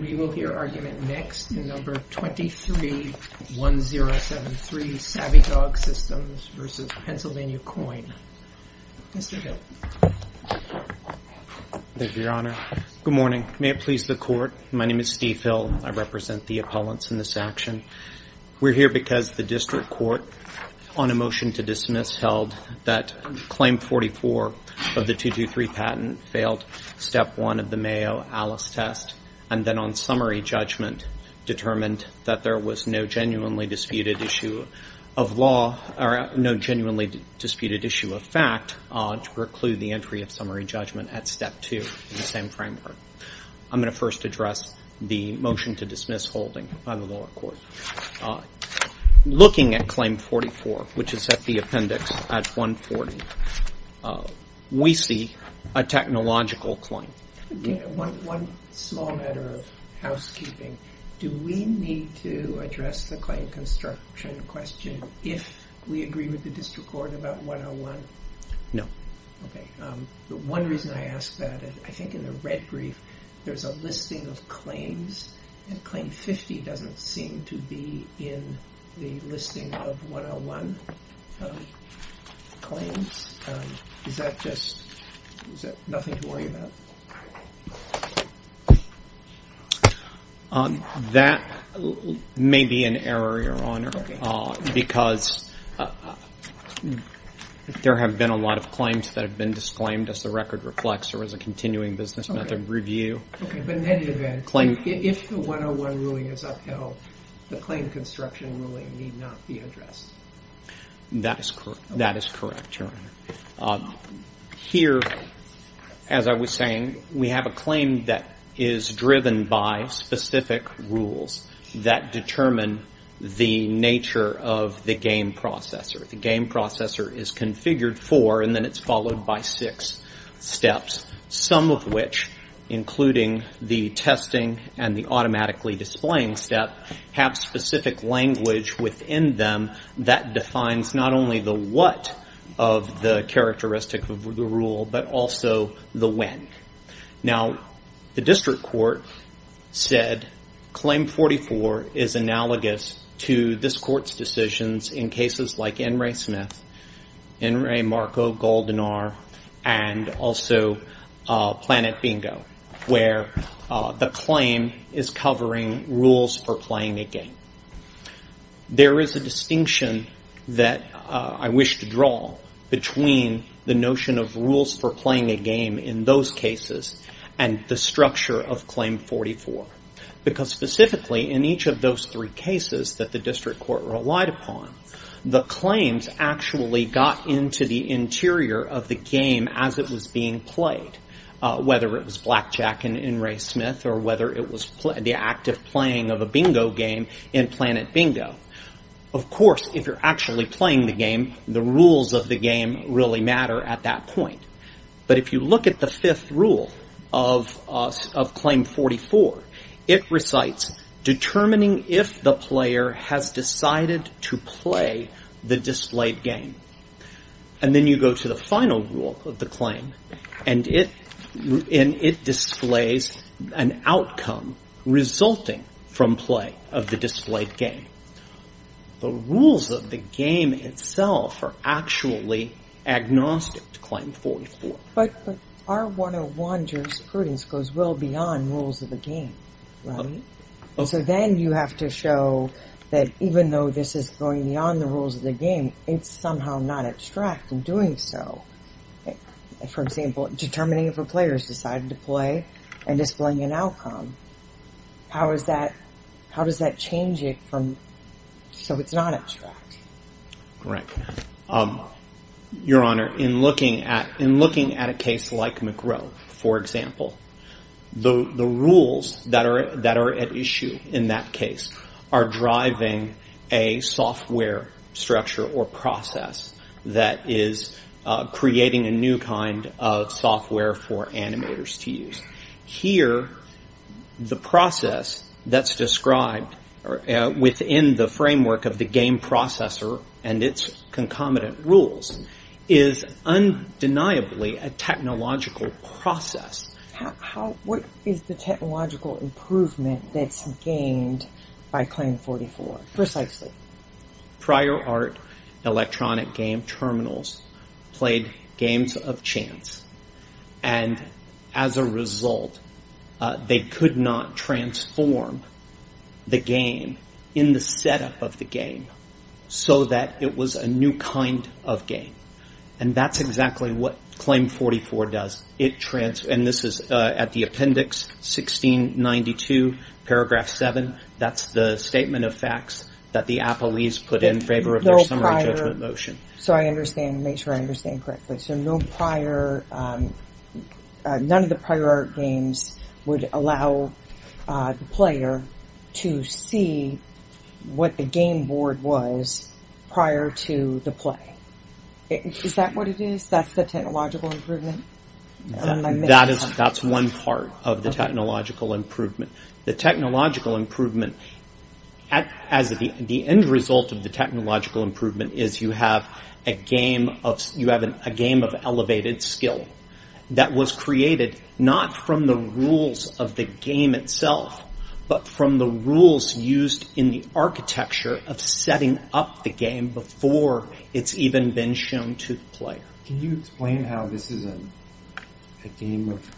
We will hear argument next in number 23-1073 Savvy Dog Systems v. Pennsylvania Coin. Mr. Hill. Thank you, Your Honor. Good morning. May it please the Court, my name is Steve Hill. I represent the appellants in this action. We're here because the District Court, on a motion to dismiss, held that Claim 44 of the 223 patent failed Step 1 of the Mayo Alice Test and then on summary judgment determined that there was no genuinely disputed issue of law or no genuinely disputed issue of fact to preclude the entry of summary judgment at Step 2 in the same framework. I'm going to first address the motion to dismiss holding by the lower court. Looking at Claim 44, which is at the appendix at 140, we see a technological claim. One small matter of housekeeping. Do we need to address the claim construction question if we agree with the District Court about 101? No. Okay. The one reason I ask that, I think in the red brief, there's a listing of claims and Claim 50 doesn't seem to be in the listing of 101 claims. Is that just nothing to worry about? That may be an error, Your Honor, because there have been a lot of claims that have been disclaimed as the record reflects or as a continuing business method of review. Okay, but in any event, if the 101 ruling is upheld, the claim construction ruling need not be addressed. That is correct, Your Honor. Here, as I was saying, we have a claim that is driven by specific rules that determine the nature of the game processor. The game processor is configured for, and then it's followed by six steps, some of which, including the testing and the automatically displaying step, have specific language within them that defines not only the what of the characteristic of the rule, but also the when. Now, the District Court said Claim 44 is analogous to this Court's decisions in cases like N. Ray Smith, N. Ray Marco, Goldanar, and also Planet Bingo, where the claim is covering rules for playing a game. There is a distinction that I wish to draw between the notion of rules for playing a game in those cases and the structure of Claim 44, because specifically in each of those three cases that the District Court relied upon, the claims actually got into the interior of the game as it was being played, whether it was blackjack in N. Ray Smith or whether it was the active playing of a bingo game in Planet Bingo. Of course, if you're actually playing the game, the rules of the game really matter at that point. But if you look at the fifth rule of Claim 44, it recites, determining if the player has decided to play the displayed game. And then you go to the final rule of the claim, and it displays an outcome resulting from play of the displayed game. The rules of the game itself are actually agnostic to Claim 44. But R101 jurisprudence goes well beyond rules of the game, right? And so then you have to show that even though this is going beyond the rules of the game, it's somehow not abstract in doing so. For example, determining if a player has decided to play and displaying an outcome. How does that change it so it's not abstract? Right. Your Honor, in looking at a case like McGrow, for example, the rules that are at issue in that case are driving a software structure or process that is creating a new kind of software for animators to use. Here, the process that's described within the framework of the game processor and its concomitant rules is undeniably a technological process. What is the technological improvement that's gained by Claim 44, precisely? Prior art electronic game terminals played games of chance. And as a result, they could not transform the game in the setup of the game so that it was a new kind of game. And that's exactly what Claim 44 does. And this is at the appendix 1692, paragraph 7. That's the statement of facts that the appellees put in favor of their summary judgment motion. So I understand. Make sure I understand correctly. So none of the prior art games would allow the player to see what the game board was prior to the play. Is that what it is? That's the technological improvement? That's one part of the technological improvement. The technological improvement, the end result of the technological improvement is you have a game of elevated skill that was created not from the rules of the game itself, but from the rules used in the architecture of setting up the game before it's even been shown to the player. Can you explain how this is a game of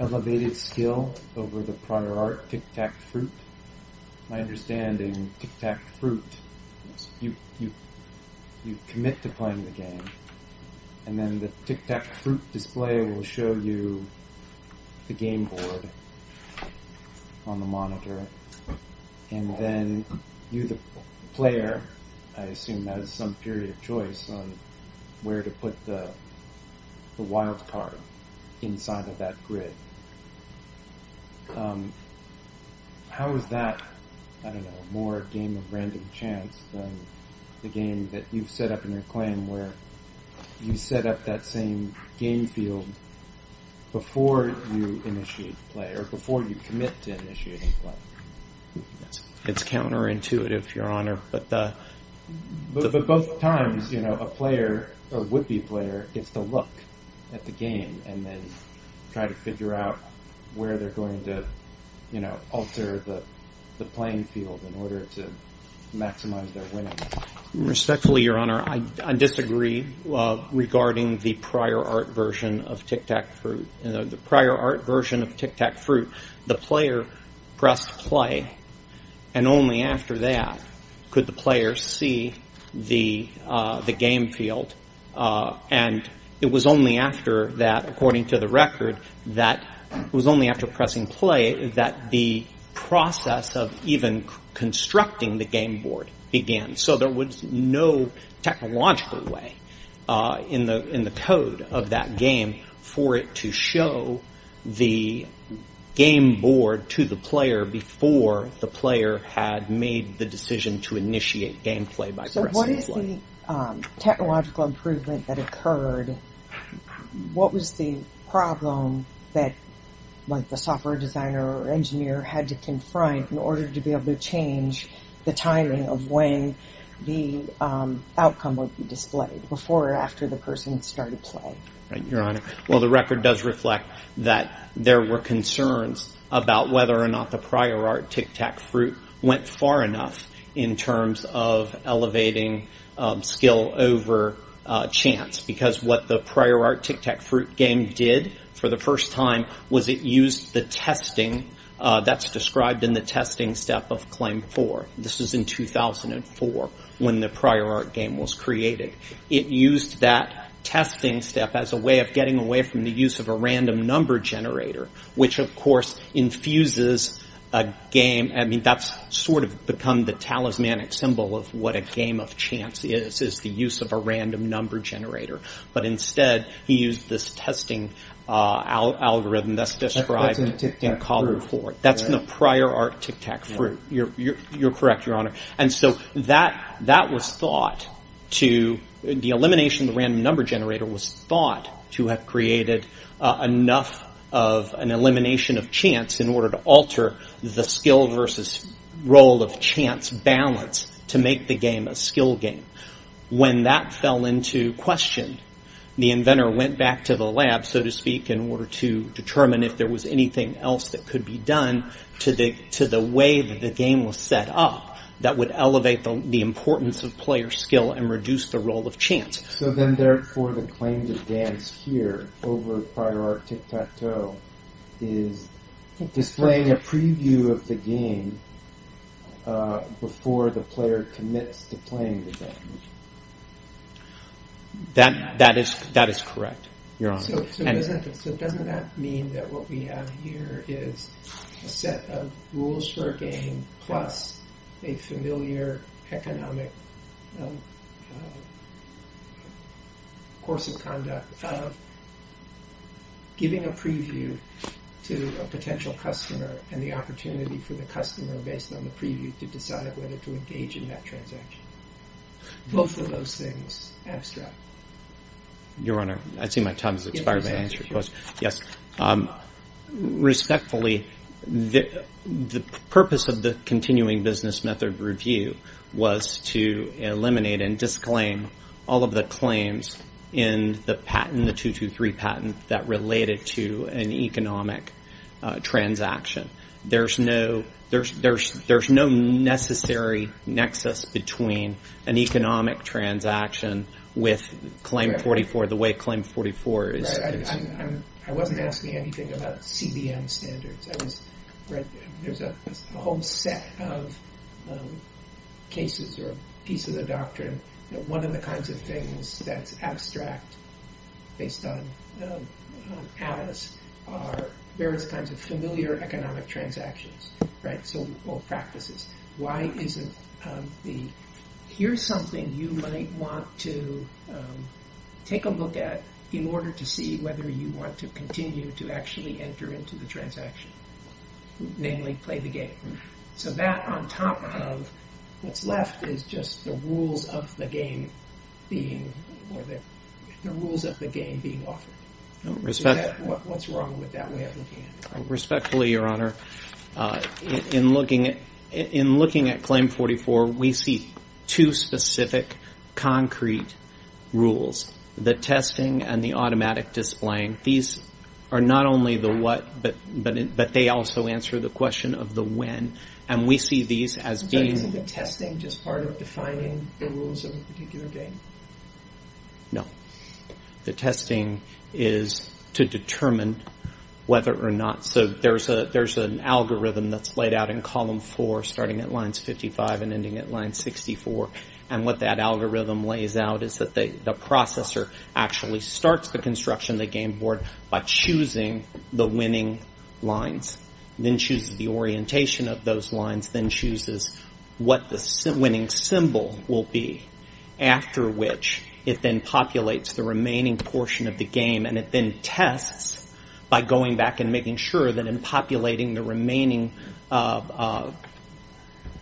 elevated skill over the prior art Tic-Tac-Fruit? My understanding, Tic-Tac-Fruit, you commit to playing the game, and then the Tic-Tac-Fruit display will show you the game board on the monitor, and then you the player, I assume, have some period of choice on where to put the wild card inside of that grid. How is that, I don't know, more a game of random chance than the game that you've set up in your claim where you set up that same game field before you initiate the play, or before you commit to initiating the play? It's counterintuitive, Your Honor. But both times, a player, a would-be player, gets to look at the game and then try to figure out where they're going to alter the playing field in order to maximize their winnings. Respectfully, Your Honor, I disagree regarding the prior art version of Tic-Tac-Fruit. In the prior art version of Tic-Tac-Fruit, the player pressed play, and only after that could the player see the game field. And it was only after that, according to the record, that it was only after pressing play that the process of even constructing the game board began. So there was no technological way in the code of that game for it to show the game board to the player before the player had made the decision to initiate gameplay by pressing play. So what is the technological improvement that occurred? What was the problem that the software designer or engineer had to confront in order to be able to change the timing of when the outcome would be displayed, before or after the person started play? Right, Your Honor. Well, the record does reflect that there were concerns about whether or not the prior art Tic-Tac-Fruit went far enough in terms of elevating skill over chance. Because what the prior art Tic-Tac-Fruit game did for the first time was it used the testing that's described in the testing step of Claim 4. This is in 2004, when the prior art game was created. It used that testing step as a way of getting away from the use of a random number generator, which, of course, infuses a game. I mean, that's sort of become the talismanic symbol of what a game of chance is, is the use of a random number generator. But instead, he used this testing algorithm that's described in column 4. That's in the Tic-Tac-Fruit. That's in the prior art Tic-Tac-Fruit. You're correct, Your Honor. And so that was thought to, the elimination of the random number generator was thought to have created enough of an elimination of chance in order to alter the skill versus role of chance balance to make the game a skill game. When that fell into question, the inventor went back to the lab, so to speak, in order to determine if there was anything else that could be done to the way that the game was set up that would elevate the importance of player skill and reduce the role of chance. So then, therefore, the claim to dance here over prior art Tic-Tac-Toe is displaying a preview of the game before the player commits to playing the game. That is correct, Your Honor. So doesn't that mean that what we have here is a set of rules for a game plus a familiar economic course of conduct of giving a preview to a potential customer and the opportunity for the customer, based on the preview, to decide whether to engage in that transaction. Both of those things, abstract. Your Honor, I see my time has expired. Yes. Respectfully, the purpose of the continuing business method review was to eliminate and disclaim all of the claims in the patent, the 223 patent, that related to an economic transaction. There's no necessary nexus between an economic transaction with Claim 44, the way Claim 44 is. I wasn't asking anything about CBM standards. There's a whole set of cases or pieces of doctrine. One of the kinds of things that's abstract, based on Alice, are various kinds of familiar economic transactions or practices. Why isn't the, here's something you might want to take a look at in order to see whether you want to continue to actually enter into the transaction. Namely, play the game. So that on top of what's left is just the rules of the game being offered. What's wrong with that way of looking at it? Respectfully, Your Honor. In looking at Claim 44, we see two specific concrete rules. The testing and the automatic displaying. These are not only the what, but they also answer the question of the when. And we see these as being... But isn't the testing just part of defining the rules of a particular game? No. The testing is to determine whether or not. So there's an algorithm that's laid out in Column 4, starting at Lines 55 and ending at Line 64. And what that algorithm lays out is that the processor actually starts the construction of the game board by choosing the winning lines. Then chooses the orientation of those lines. Then chooses what the winning symbol will be. After which, it then populates the remaining portion of the game. And it then tests by going back and making sure that in populating the remaining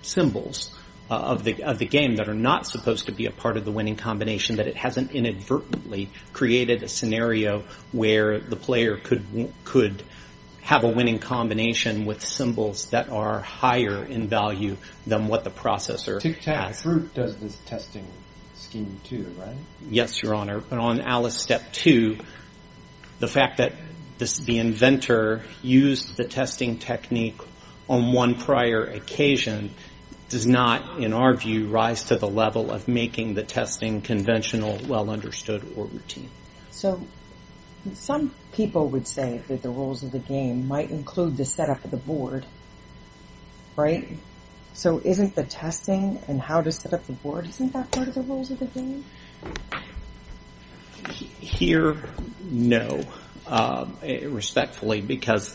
symbols of the game that are not supposed to be a part of the winning combination. That it hasn't inadvertently created a scenario where the player could have a winning combination with symbols that are higher in value than what the processor has. Tic-Tac-Fruit does this testing scheme too, right? Yes, Your Honor. But on Alice Step 2, the fact that the inventor used the testing technique on one prior occasion does not, in our view, rise to the level of making the testing conventional, well-understood, or routine. So some people would say that the rules of the game might include the setup of the board, right? So isn't the testing and how to set up the board, isn't that part of the rules of the game? Here, no. Respectfully, because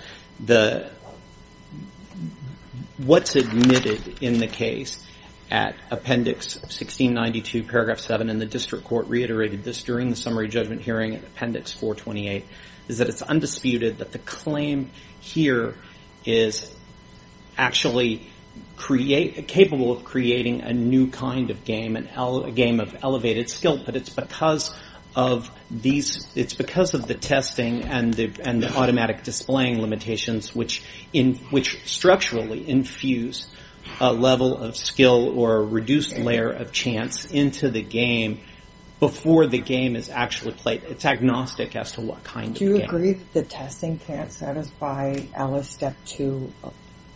what's admitted in the case at Appendix 1692, Paragraph 7, and the District Court reiterated this during the summary judgment hearing at Appendix 428, is that it's undisputed that the claim here is actually capable of creating a new kind of game, a game of elevated skill. But it's because of the testing and the automatic displaying limitations which structurally infuse a level of skill or a reduced layer of chance into the game before the game is actually played. It's agnostic as to what kind of game. Do you agree that the testing can't satisfy Alice Step 2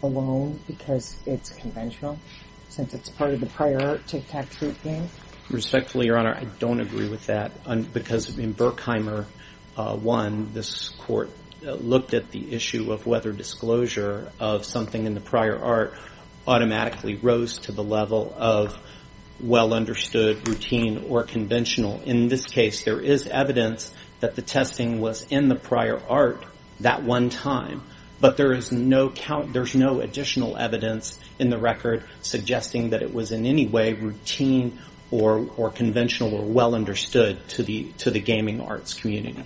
alone because it's conventional, since it's part of the prior art Tic-Tac-Toot game? Respectfully, Your Honor, I don't agree with that because in Berkheimer 1, this court looked at the issue of whether disclosure of something in the prior art automatically rose to the level of well-understood, routine, or conventional. In this case, there is evidence that the testing was in the prior art that one time, but there is no additional evidence in the record suggesting that it was in any way routine or conventional or well-understood to the gaming arts community.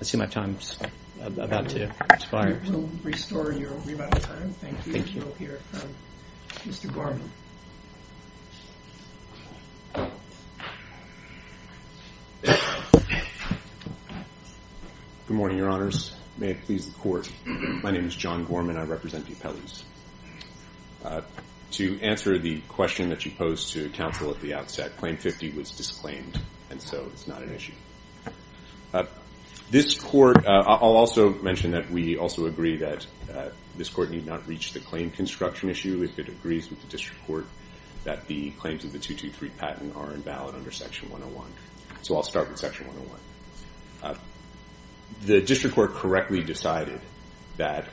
I see my time's about to expire. We'll restore your remand time. Thank you. Mr. Gorman. Good morning, Your Honors. May it please the Court. My name is John Gorman. I represent the appellees. To answer the question that you posed to counsel at the outset, Claim 50 was disclaimed, and so it's not an issue. This court... I'll also mention that we also agree that this court need not reach the claim construction issue if it agrees with the district court that the claims of the 223 patent are invalid under Section 101. So I'll start with Section 101. The district court correctly decided that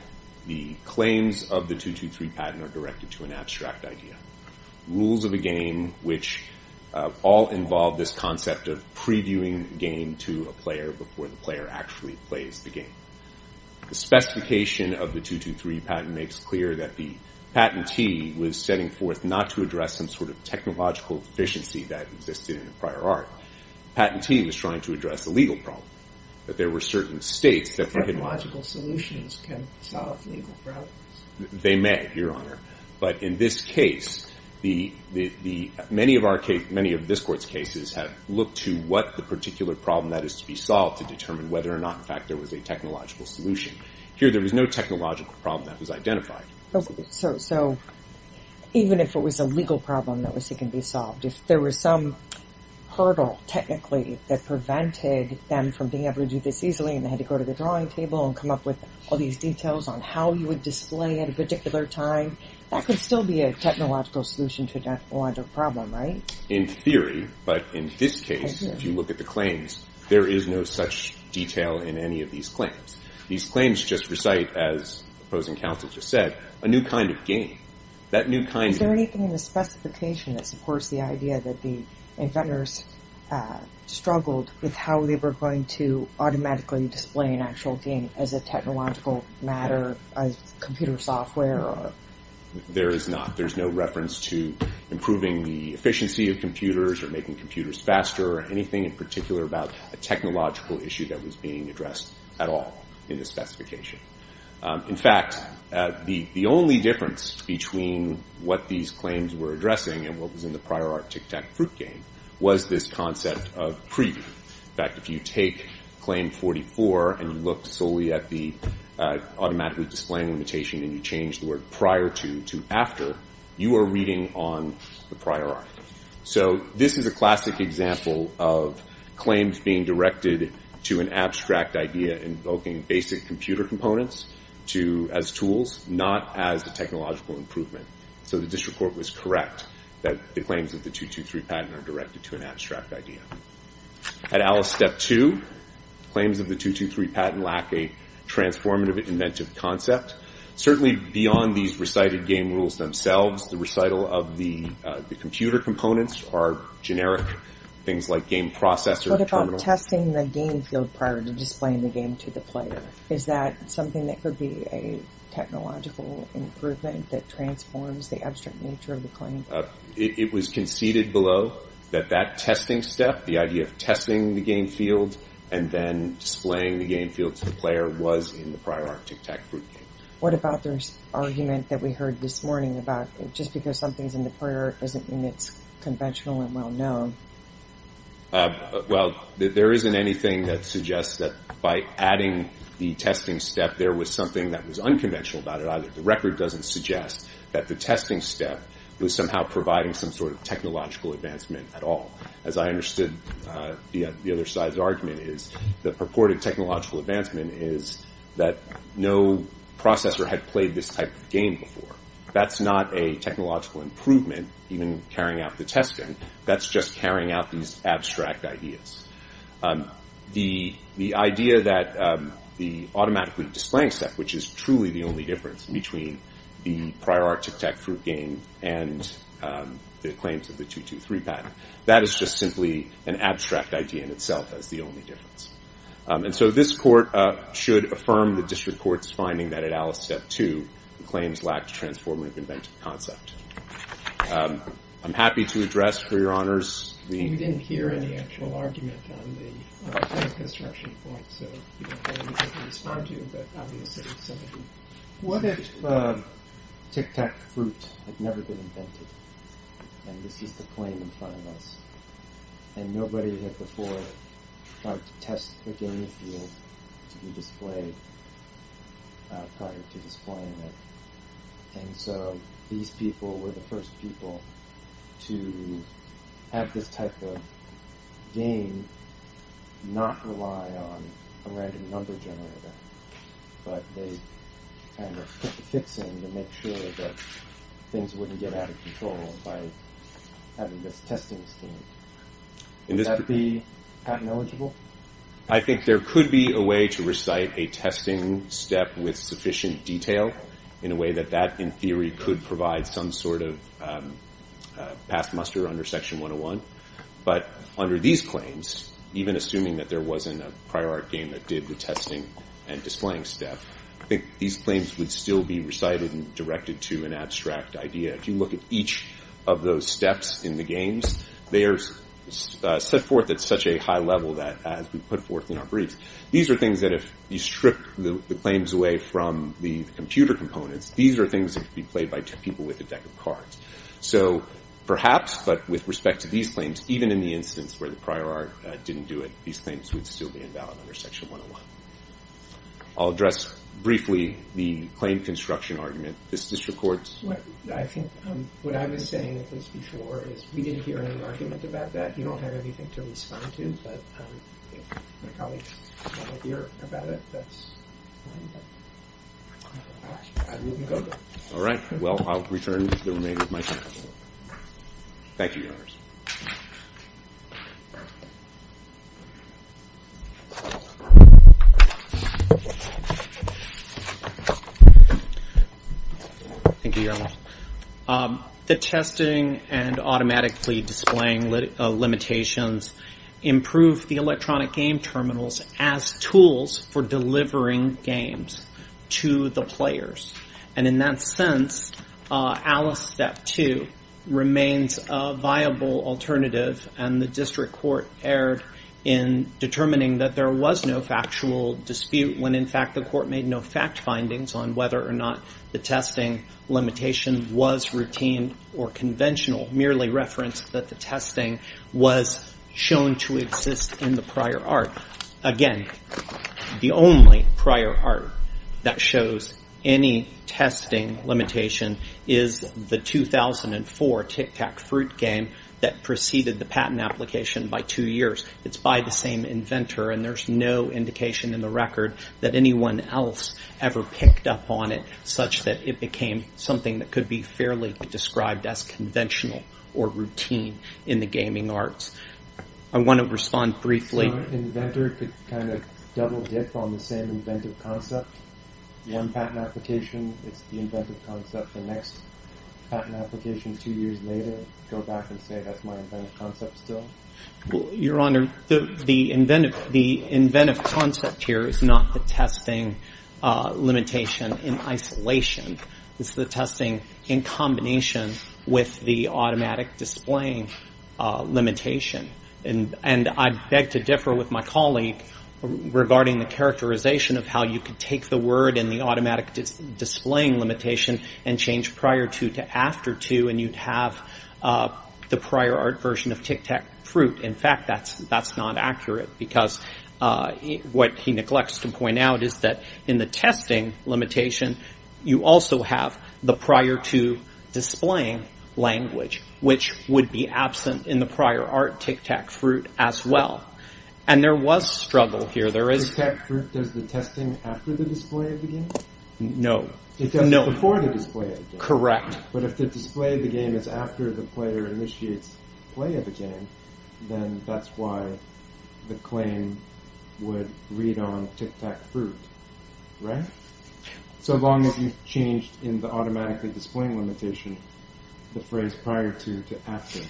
the claims of the 223 patent are directed to an abstract idea, rules of a game which all involve this concept of previewing a game to a player before the player actually plays the game. The specification of the 223 patent makes clear that the patentee was setting forth not to address some sort of technological deficiency that existed in the prior art. The patentee was trying to address a legal problem, that there were certain states that... Technological solutions can solve legal problems. They may, Your Honor. But in this case, many of this court's cases have looked to what the particular problem that is to be solved to determine whether or not, in fact, there was a technological solution. Here, there was no technological problem that was identified. So even if it was a legal problem that was seeking to be solved, if there was some hurdle, technically, that prevented them from being able to do this easily and they had to go to the drawing table and come up with all these details on how you would display at a particular time, that could still be a technological solution to a technological problem, right? In theory, but in this case, if you look at the claims, there is no such detail in any of these claims. These claims just recite, as the opposing counsel just said, a new kind of game. Is there anything in the specification that supports the idea that the inventors struggled with how they were going to automatically display an actual game as a technological matter, a computer software? There is not. There's no reference to improving the efficiency of computers or making computers faster or anything in particular about a technological issue that was being addressed at all in the specification. In fact, the only difference between what these claims were addressing and what was in the prior art Tic-Tac-Fruit game was this concept of preview. In fact, if you take Claim 44 and you look solely at the automatically displaying limitation and you change the word prior to to after, you are reading on the prior art. So this is a classic example of claims being directed to an abstract idea invoking basic computer components as tools, not as a technological improvement. So the district court was correct that the claims of the 223 patent are directed to an abstract idea. At Alice Step 2, claims of the 223 patent lack a transformative inventive concept. Certainly beyond these recited game rules themselves, the recital of the computer components are generic things like game processor terminals. What about testing the game field prior to displaying the game to the player? Is that something that could be a technological improvement that transforms the abstract nature of the claim? It was conceded below that that testing step, the idea of testing the game field and then displaying the game field to the player was in the prior art Tic-Tac-Fruit game. What about this argument that we heard this morning about just because something's in the prior art doesn't mean it's conventional and well-known? Well, there isn't anything that suggests that by adding the testing step, there was something that was unconventional about it either. The record doesn't suggest that the testing step was somehow providing some sort of technological advancement at all. As I understood the other side's argument, the purported technological advancement is that no processor had played this type of game before. That's not a technological improvement, even carrying out the testing. That's just carrying out these abstract ideas. The idea that the automatically displaying step, which is truly the only difference between the prior art Tic-Tac-Fruit game and the claims of the 223 patent, that is just simply an abstract idea in itself as the only difference. And so this court should affirm the district court's finding that at Alice Step 2, the claims lacked a transformatively inventive concept. I'm happy to address, for your honors, the... We didn't hear any actual argument on the construction point, so we don't have anything to respond to, but obviously... What if Tic-Tac-Fruit had never been invented, and this is the claim in front of us, and nobody had before tried to test the game if it was to be displayed prior to displaying it, and so these people were the first people to have this type of game not rely on a random number generator, but they kind of put the fix in to make sure that things wouldn't get out of control by having this testing scheme. Would that be patent eligible? I think there could be a way to recite a testing step with sufficient detail in a way that that, in theory, could provide some sort of past muster under Section 101, but under these claims, even assuming that there wasn't a prior art game that did the testing and displaying step, I think these claims would still be recited and directed to an abstract idea. If you look at each of those steps in the games, they are set forth at such a high level that as we put forth in our briefs, these are things that if you strip the claims away from the computer components, these are things that could be played by two people with a deck of cards. So perhaps, but with respect to these claims, even in the instance where the prior art didn't do it, these claims would still be invalid under Section 101. I'll address briefly the claim construction argument. What I've been saying at least before is we didn't hear any argument about that. You don't have anything to respond to, but if my colleagues want to hear about it, that's fine. Well, I'll return to the remainder of my time. Thank you, Your Honors. Thank you, Your Honor. The testing and automatically displaying limitations improve the electronic game terminals as tools for delivering games to the players, and in that sense, Alice Step 2 remains a viable alternative, and the district court erred in determining that there was no factual dispute when, in fact, the court made no fact findings on whether or not the testing limitation was routine or conventional, merely referenced that the testing was shown to exist in the prior art. Again, the only prior art that shows any testing limitation is the 2004 Tic Tac Fruit game that preceded the patent application by two years. It's by the same inventor, and there's no indication in the record that anyone else ever picked up on it such that it became something that could be fairly described as conventional or routine in the gaming arts. I want to respond briefly... So an inventor could kind of double-dip on the same inventive concept? One patent application, it's the inventive concept. The next patent application, two years later, I would go back and say, that's my inventive concept still? Your Honor, the inventive concept here is not the testing limitation in isolation. It's the testing in combination with the automatic displaying limitation. And I beg to differ with my colleague regarding the characterization of how you could take the word in the automatic displaying limitation and change prior to to after to, and you'd have the prior art version of Tic Tac Fruit. In fact, that's not accurate because what he neglects to point out is that in the testing limitation you also have the prior to displaying language which would be absent in the prior art Tic Tac Fruit as well. And there was struggle here. Tic Tac Fruit does the testing after the display of the game? No. It does it before the display of the game. Correct. But if the display of the game is after the player initiates play of the game, then that's why the claim would read on Tic Tac Fruit. Right? So long as you've changed in the automatic displaying limitation the phrase prior to to after.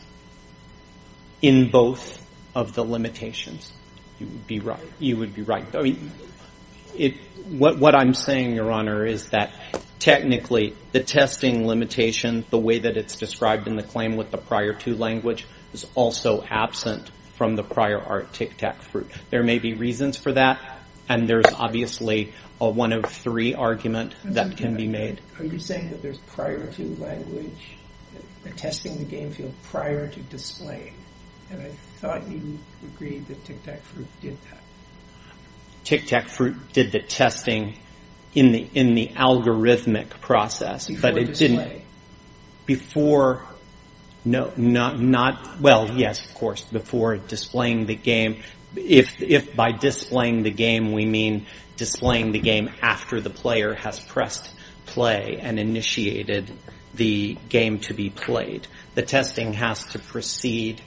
In both of the limitations. You would be right. What I'm saying, Your Honor, is that technically the testing limitation the way that it's described in the claim with the prior to language is also absent from the prior art Tic Tac Fruit. There may be reasons for that and there's obviously a one of three argument that can be made. Are you saying that there's prior to language testing the game field prior to display? And I thought you agreed that Tic Tac Fruit did that. Tic Tac Fruit did the testing in the algorithmic process. Before display? Before... Well, yes, of course, before displaying the game. If by displaying the game we mean displaying the game after the player has pressed play and initiated the game to be played. The testing has to precede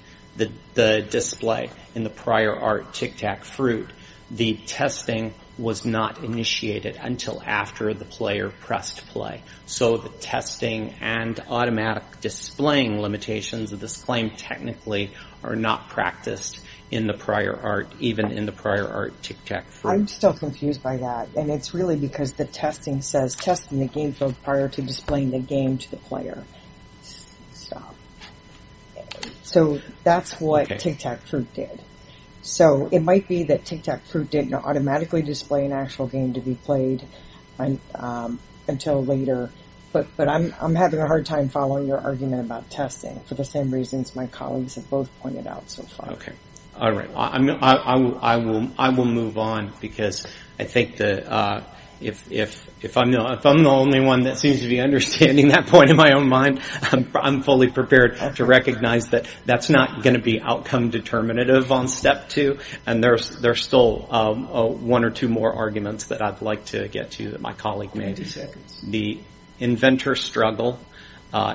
the display in the prior art Tic Tac Fruit. The testing was not initiated until after the player pressed play. So the testing and automatic displaying limitations of this claim technically are not practiced in the prior art, even in the prior art Tic Tac Fruit. I'm still confused by that. And it's really because the testing says testing the game field prior to displaying the game to the player. Stop. So that's what Tic Tac Fruit did. So it might be that Tic Tac Fruit didn't automatically display an actual game to be played until later, but I'm having a hard time following your argument about testing for the same reasons my colleagues have both pointed out so far. Okay, all right, I will move on because I think that if I'm the only one that seems to be understanding that point in my own mind, I'm fully prepared to recognize that that's not going to be outcome determinative on step two, and there's still one or two more arguments that I'd like to get to that my colleague made. The inventor struggle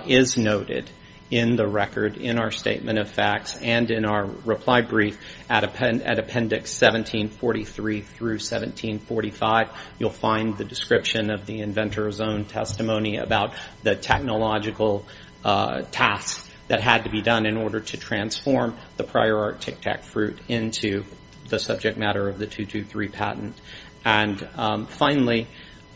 is noted in the record in our statement of facts and in our reply brief at appendix 1743 through 1745. You'll find the description of the inventor's own testimony about the technological tasks that had to be done in order to transform the prior art Tic Tac Fruit into the subject matter of the 223 patent. And finally,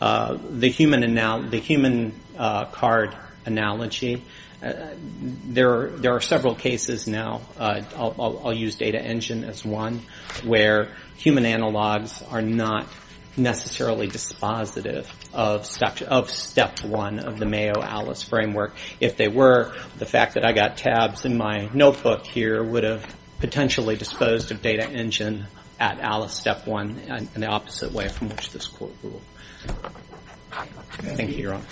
the human card analogy. There are several cases now, I'll use data engine as one, where human analogs are not necessarily dispositive of step one of the Mayo Alice framework. If they were, the fact that I got tabs in my notebook here would have potentially disposed of data engine at Alice step one in the opposite way from which this court ruled. Thank you, Your Honor.